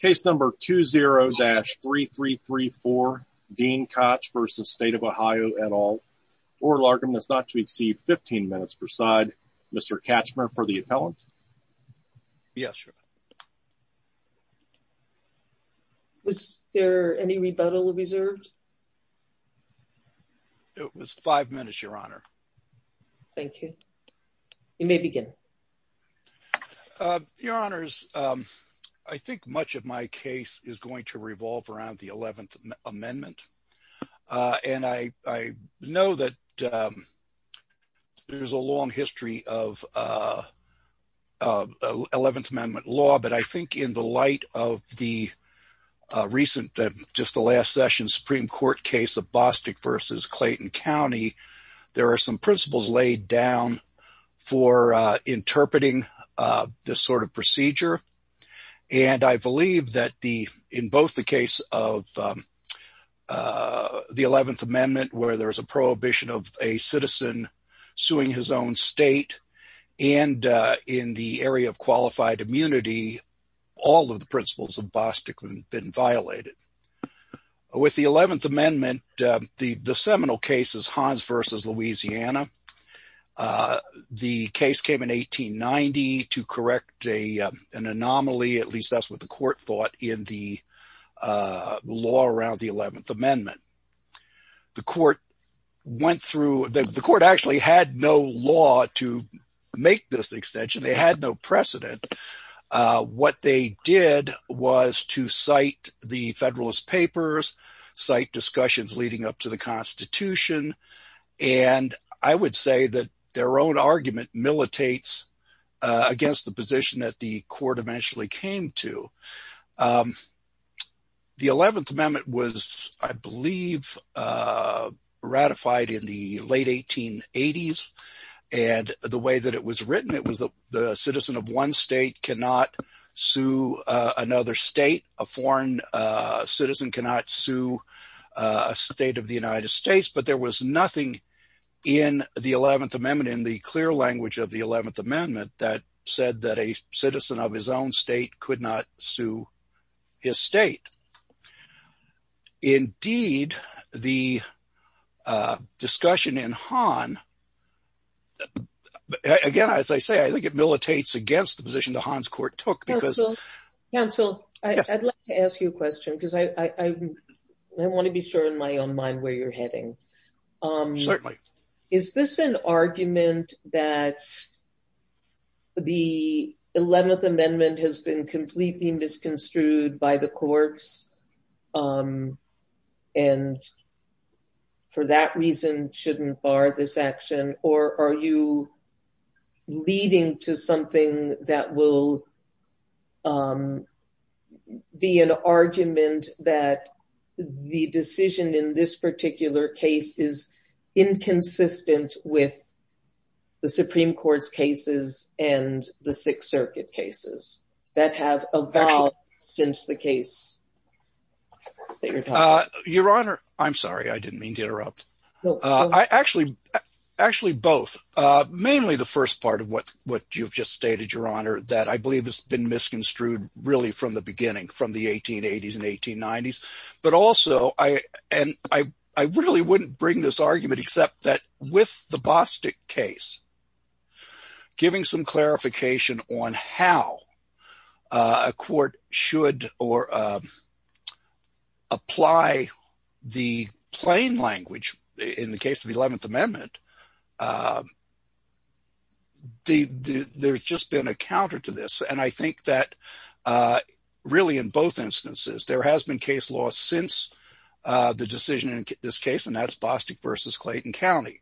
Case number 20-3334, Dean Koch v. State of Ohio, et al, oral argument is not to exceed 15 minutes per side. Mr. Katchmer for the appellant. Yes, Your Honor. Was there any rebuttal reserved? It was five minutes, Your Honor. Thank you. You may begin. Your Honors, I think much of my case is going to revolve around the 11th Amendment. And I know that there's a long history of 11th Amendment law, but I think in the light of the recent, just the last session, Supreme Court case of Bostick v. Clayton County, there are some principles laid down for interpreting this sort of procedure. And I believe that in both the case of the 11th Amendment, where there's a prohibition of a citizen suing his own state, and in the area of qualified immunity, all of the principles of Bostick have been violated. With the 11th Amendment, the seminal case is Hans v. Louisiana. The case came in 1890 to correct an anomaly, at least that's what the court thought, in the law around the 11th Amendment. The court went through – the court actually had no law to make this extension. They had no precedent. What they did was to cite the Federalist Papers, cite discussions leading up to the Constitution, and I would say that their own argument militates against the position that the court eventually came to. The 11th Amendment was, I believe, ratified in the late 1880s, and the way that it was written, it was that a citizen of one state cannot sue another state. A foreign citizen cannot sue a state of the United States, but there was nothing in the 11th Amendment, in the clear language of the 11th Amendment, that said that a citizen of his own state could not sue his state. Indeed, the discussion in Hahn – again, as I say, I think it militates against the position that Hahn's court took. Counsel, I'd like to ask you a question because I want to be sure in my own mind where you're heading. Certainly. Is this an argument that the 11th Amendment has been completely misconstrued by the courts and, for that reason, shouldn't bar this action? Or are you leading to something that will be an argument that the decision in this particular case is inconsistent with the Supreme Court's cases and the Sixth Circuit cases that have evolved since the case that you're talking about? I'm sorry, I didn't mean to interrupt. Actually, both. Mainly the first part of what you've just stated, Your Honor, that I believe has been misconstrued really from the beginning, from the 1880s and 1890s. But also, and I really wouldn't bring this argument except that with the Bostic case, giving some clarification on how a court should apply the plain language in the case of the 11th Amendment, there's just been a counter to this. And I think that really in both instances, there has been case law since the decision in this case, and that's Bostic v. Clayton County.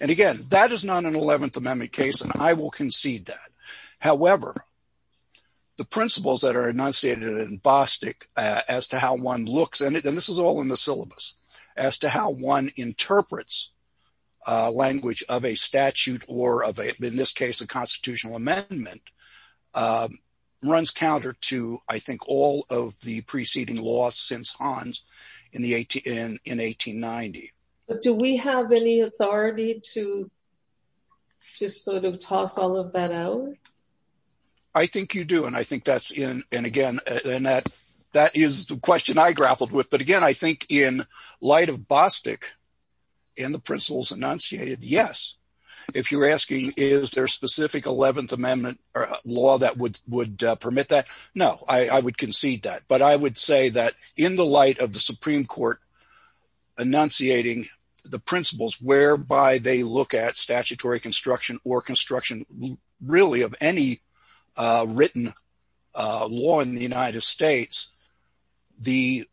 And again, that is not an 11th Amendment case, and I will concede that. It runs counter to, I think, all of the preceding laws since Hans in 1890. Do we have any authority to just sort of toss all of that out? I think you do, and I think that's – and again, that is the question I grappled with. But again, I think in light of Bostic and the principles enunciated, yes. If you're asking is there a specific 11th Amendment law that would permit that, no, I would concede that. But I would say that in the light of the Supreme Court enunciating the principles whereby they look at statutory construction or construction really of any written law in the United States, the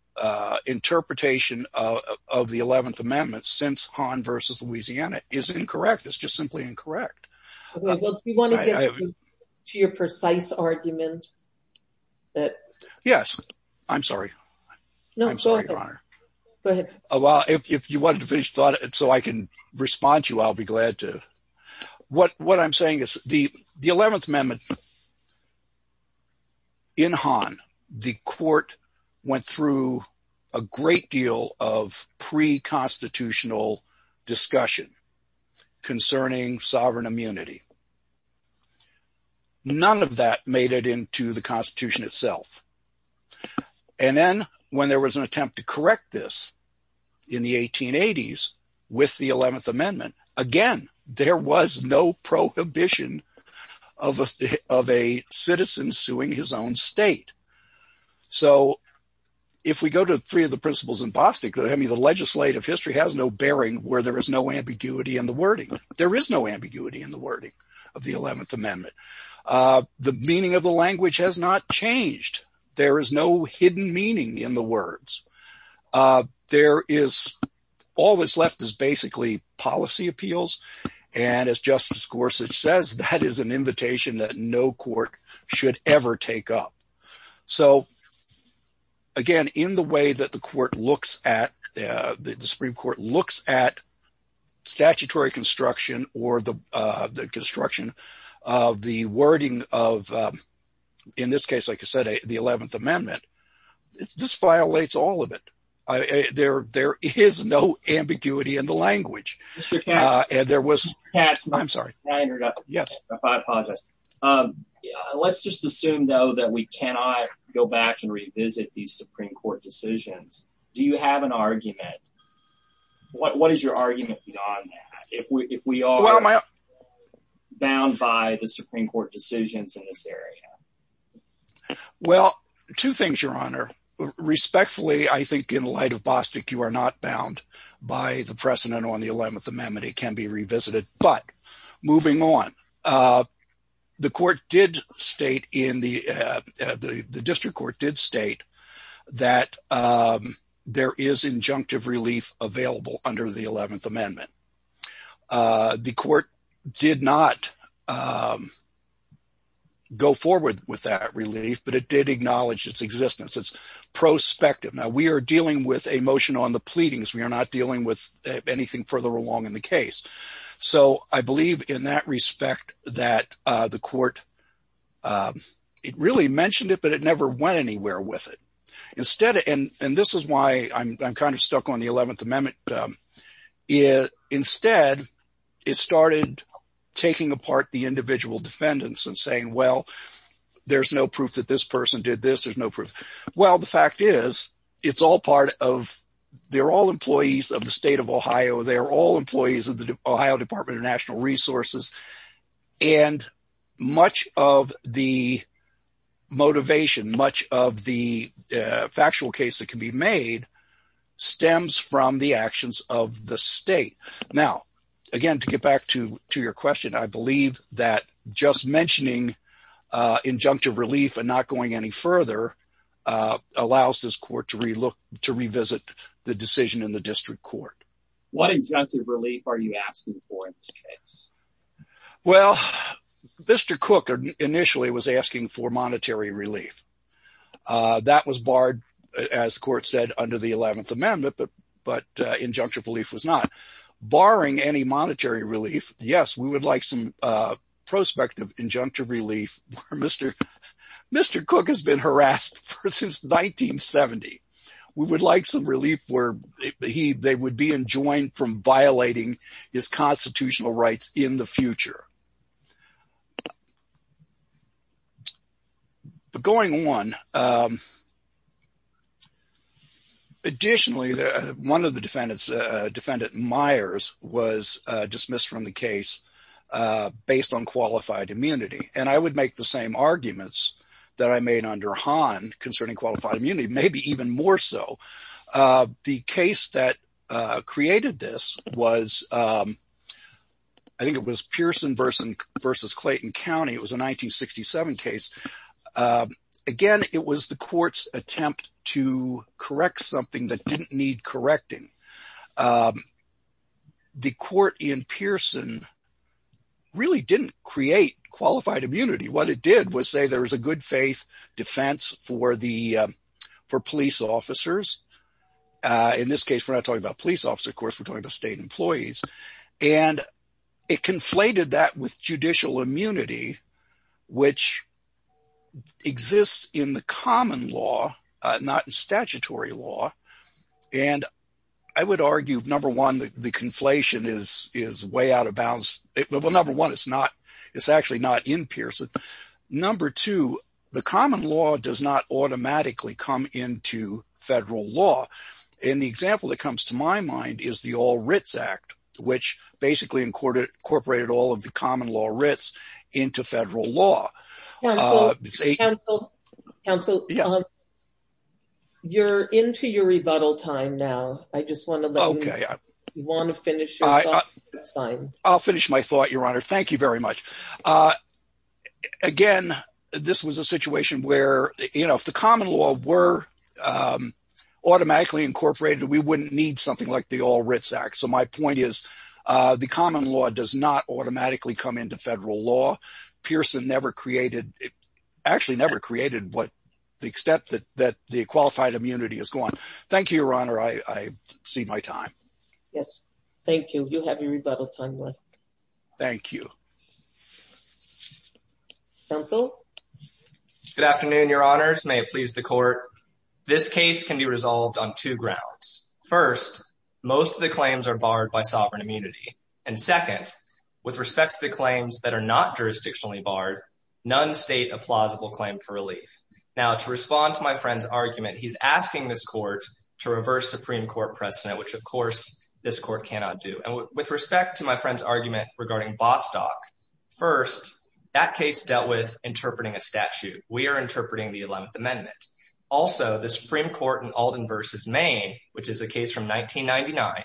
interpretation of the 11th Amendment since Hans v. Louisiana is incorrect. It's just simply incorrect. Do you want to get to your precise argument? Yes. I'm sorry. I'm sorry, Your Honor. Go ahead. If you wanted to finish the thought so I can respond to you, I'll be glad to. What I'm saying is the 11th Amendment in Hans, the court went through a great deal of pre-constitutional discussion concerning sovereign immunity. None of that made it into the Constitution itself. And then when there was an attempt to correct this in the 1880s with the 11th Amendment, again, there was no prohibition of a citizen suing his own state. So if we go to three of the principles in Bostic, the legislative history has no bearing where there is no ambiguity in the wording. There is no ambiguity in the wording of the 11th Amendment. The meaning of the language has not changed. There is no hidden meaning in the words. There is – all that's left is basically policy appeals. And as Justice Gorsuch says, that is an invitation that no court should ever take up. So, again, in the way that the court looks at – the Supreme Court looks at statutory construction or the construction of the wording of, in this case, like I said, the 11th Amendment, this violates all of it. There is no ambiguity in the language. Mr. Katz. There was – I'm sorry. May I interrupt? Yes. I apologize. Let's just assume, though, that we cannot go back and revisit these Supreme Court decisions. Do you have an argument? What is your argument beyond that if we are bound by the Supreme Court decisions in this area? Well, two things, Your Honor. Respectfully, I think in light of Bostic, you are not bound by the precedent on the 11th Amendment. It can be revisited. But moving on, the court did state in the – the district court did state that there is injunctive relief available under the 11th Amendment. The court did not go forward with that relief, but it did acknowledge its existence. It's prospective. Now, we are dealing with a motion on the pleadings. We are not dealing with anything further along in the case. So I believe in that respect that the court – it really mentioned it, but it never went anywhere with it. Instead – and this is why I'm kind of stuck on the 11th Amendment. Instead, it started taking apart the individual defendants and saying, well, there's no proof that this person did this. There's no proof. Well, the fact is it's all part of – they're all employees of the state of Ohio. They're all employees of the Ohio Department of National Resources. And much of the motivation, much of the factual case that can be made stems from the actions of the state. Now, again, to get back to your question, I believe that just mentioning injunctive relief and not going any further allows this court to revisit the decision in the district court. What injunctive relief are you asking for in this case? Well, Mr. Cook initially was asking for monetary relief. That was barred, as the court said, under the 11th Amendment, but injunctive relief was not. Barring any monetary relief, yes, we would like some prospective injunctive relief. Mr. Cook has been harassed since 1970. We would like some relief where they would be enjoined from violating his constitutional rights in the future. But going on, additionally, one of the defendants, Defendant Myers, was dismissed from the case based on qualified immunity. And I would make the same arguments that I made under Hahn concerning qualified immunity, maybe even more so. The case that created this was, I think it was Pearson v. Clayton County. It was a 1967 case. Again, it was the court's attempt to correct something that didn't need correcting. The court in Pearson really didn't create qualified immunity. What it did was say there was a good faith defense for police officers. In this case, we're not talking about police officers, of course, we're talking about state employees. And it conflated that with judicial immunity, which exists in the common law, not in statutory law. And I would argue, number one, the conflation is way out of bounds. Well, number one, it's actually not in Pearson. Number two, the common law does not automatically come into federal law. And the example that comes to my mind is the All Writs Act, which basically incorporated all of the common law writs into federal law. Counsel, you're into your rebuttal time now. I just want to let you finish your thought. I'll finish my thought, Your Honor. Thank you very much. Again, this was a situation where if the common law were automatically incorporated, we wouldn't need something like the All Writs Act. So my point is the common law does not automatically come into federal law. Pearson actually never created the extent that the qualified immunity is going. Thank you, Your Honor. I see my time. Yes. Thank you. You have your rebuttal time left. Thank you. Counsel? Good afternoon, Your Honors. May it please the Court. This case can be resolved on two grounds. First, most of the claims are barred by sovereign immunity. And second, with respect to the claims that are not jurisdictionally barred, none state a plausible claim for relief. Now, to respond to my friend's argument, he's asking this court to reverse Supreme Court precedent, which, of course, this court cannot do. And with respect to my friend's argument regarding Bostock, first, that case dealt with interpreting a statute. Also, the Supreme Court in Alden v. Maine, which is a case from 1999,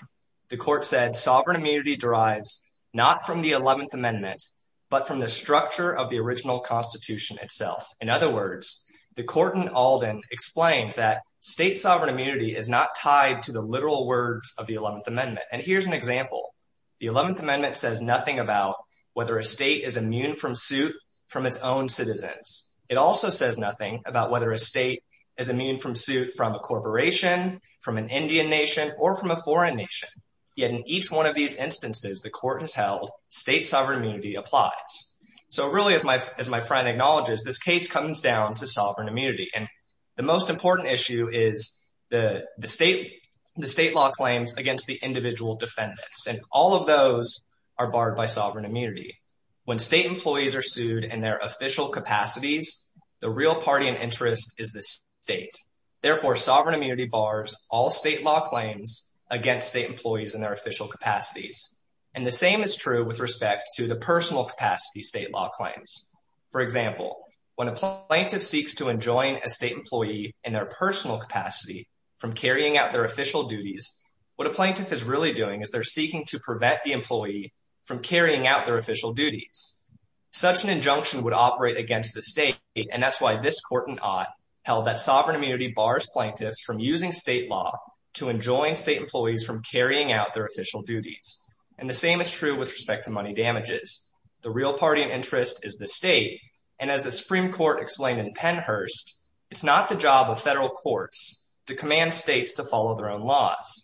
the court said sovereign immunity derives not from the 11th Amendment, but from the structure of the original Constitution itself. In other words, the court in Alden explained that state sovereign immunity is not tied to the literal words of the 11th Amendment. And here's an example. The 11th Amendment says nothing about whether a state is immune from suit from its own citizens. It also says nothing about whether a state is immune from suit from a corporation, from an Indian nation, or from a foreign nation. Yet in each one of these instances the court has held state sovereign immunity applies. So really, as my friend acknowledges, this case comes down to sovereign immunity. And the most important issue is the state law claims against the individual defendants. And all of those are barred by sovereign immunity. When state employees are sued in their official capacities, the real party in interest is the state. Therefore, sovereign immunity bars all state law claims against state employees in their official capacities. And the same is true with respect to the personal capacity state law claims. For example, when a plaintiff seeks to enjoin a state employee in their personal capacity from carrying out their official duties, what a plaintiff is really doing is they're seeking to prevent the employee from carrying out their official duties. Such an injunction would operate against the state. And that's why this court in Ott held that sovereign immunity bars plaintiffs from using state law to enjoin state employees from carrying out their official duties. And the same is true with respect to money damages. The real party in interest is the state. And as the Supreme Court explained in Pennhurst, it's not the job of federal courts to command states to follow their own laws.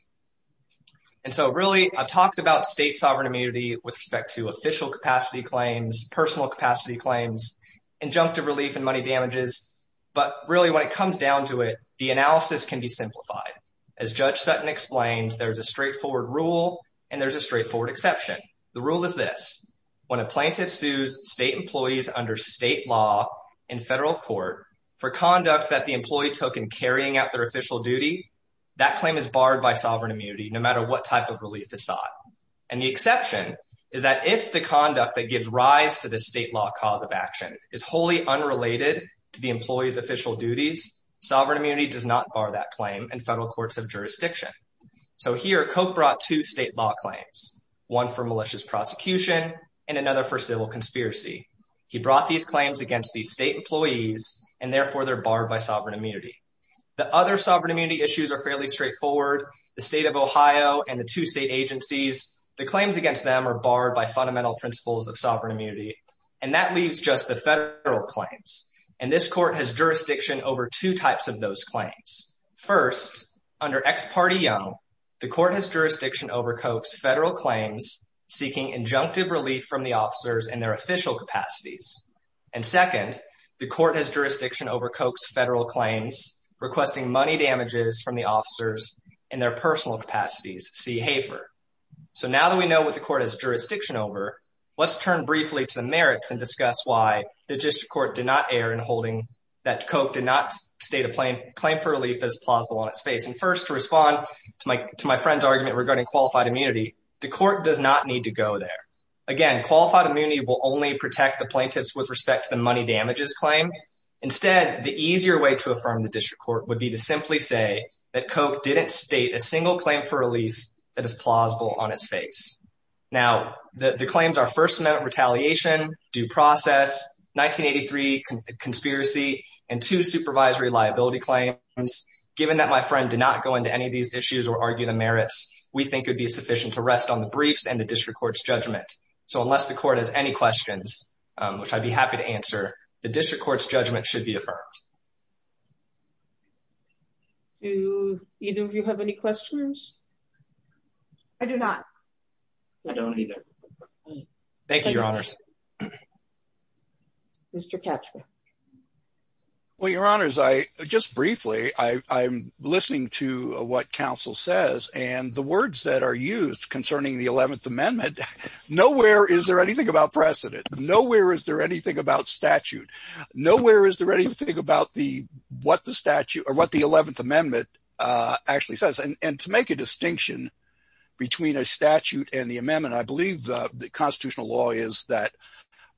And so really, I've talked about state sovereign immunity with respect to official capacity claims, personal capacity claims, injunctive relief and money damages. But really, when it comes down to it, the analysis can be simplified. As Judge Sutton explains, there's a straightforward rule and there's a straightforward exception. The rule is this. When a plaintiff sues state employees under state law in federal court for conduct that the employee took in carrying out their official duty, that claim is barred by sovereign immunity no matter what type of relief is sought. And the exception is that if the conduct that gives rise to the state law cause of action is wholly unrelated to the employee's official duties, sovereign immunity does not bar that claim in federal courts of jurisdiction. So here, Koch brought two state law claims, one for malicious prosecution and another for civil conspiracy. He brought these claims against the state employees and therefore they're barred by sovereign immunity. The other sovereign immunity issues are fairly straightforward. The state of Ohio and the two state agencies, the claims against them are barred by fundamental principles of sovereign immunity. And that leaves just the federal claims. And this court has jurisdiction over two types of those claims. First, under ex parte Young, the court has jurisdiction over Koch's federal claims seeking injunctive relief from the officers in their official capacities. And second, the court has jurisdiction over Koch's federal claims requesting money damages from the officers in their personal capacities, see Hafer. So now that we know what the court has jurisdiction over, let's turn briefly to the merits and discuss why the district court did not err in holding that Koch did not state a claim for relief that is plausible on its face. And first, to respond to my friend's argument regarding qualified immunity, the court does not need to go there. Again, qualified immunity will only protect the plaintiffs with respect to the money damages claim. Instead, the easier way to affirm the district court would be to simply say that Koch didn't state a single claim for relief that is plausible on its face. Now, the claims are First Amendment retaliation, due process, 1983 conspiracy, and two supervisory liability claims. Given that my friend did not go into any of these issues or argue the merits we think would be sufficient to rest on the briefs and the district court's judgment. So unless the court has any questions, which I'd be happy to answer, the district court's judgment should be affirmed. Do either of you have any questions? I do not. I don't either. Thank you, Your Honors. Mr. Ketchum. Well, Your Honors, I just briefly I'm listening to what counsel says and the words that are used concerning the 11th Amendment. Nowhere is there anything about precedent. Nowhere is there anything about statute. Nowhere is there anything about the what the statute or what the 11th Amendment actually says. And to make a distinction between a statute and the amendment, I believe the constitutional law is that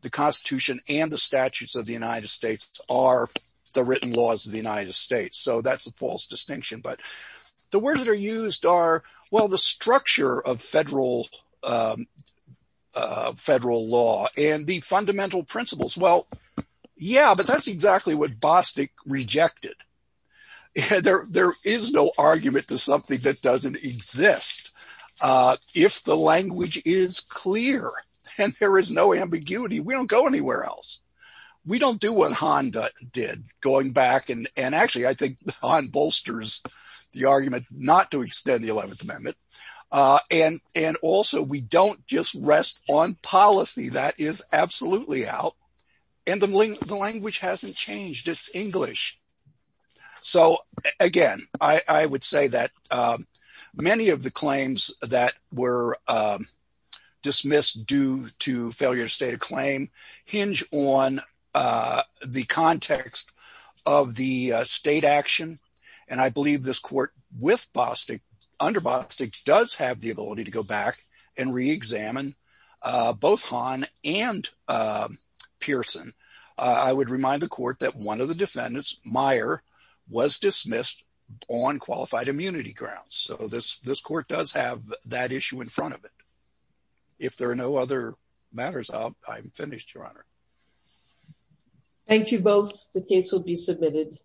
the Constitution and the statutes of the United States are the written laws of the United States. So that's a false distinction. But the words that are used are, well, the structure of federal law and the fundamental principles. Well, yeah, but that's exactly what Bostic rejected. There is no argument to something that doesn't exist. If the language is clear and there is no ambiguity, we don't go anywhere else. We don't do what Honda did going back and actually I think Hon bolsters the argument not to extend the 11th Amendment. And also we don't just rest on policy. That is absolutely out. And the language hasn't changed. It's English. So, again, I would say that many of the claims that were dismissed due to failure to state a claim hinge on the context of the state action. And I believe this court with Bostic under Bostic does have the ability to go back and reexamine both Hon and Pearson. I would remind the court that one of the defendants, Meyer, was dismissed on qualified immunity grounds. So this court does have that issue in front of it. If there are no other matters, I'm finished, Your Honor. Thank you both. The case will be submitted.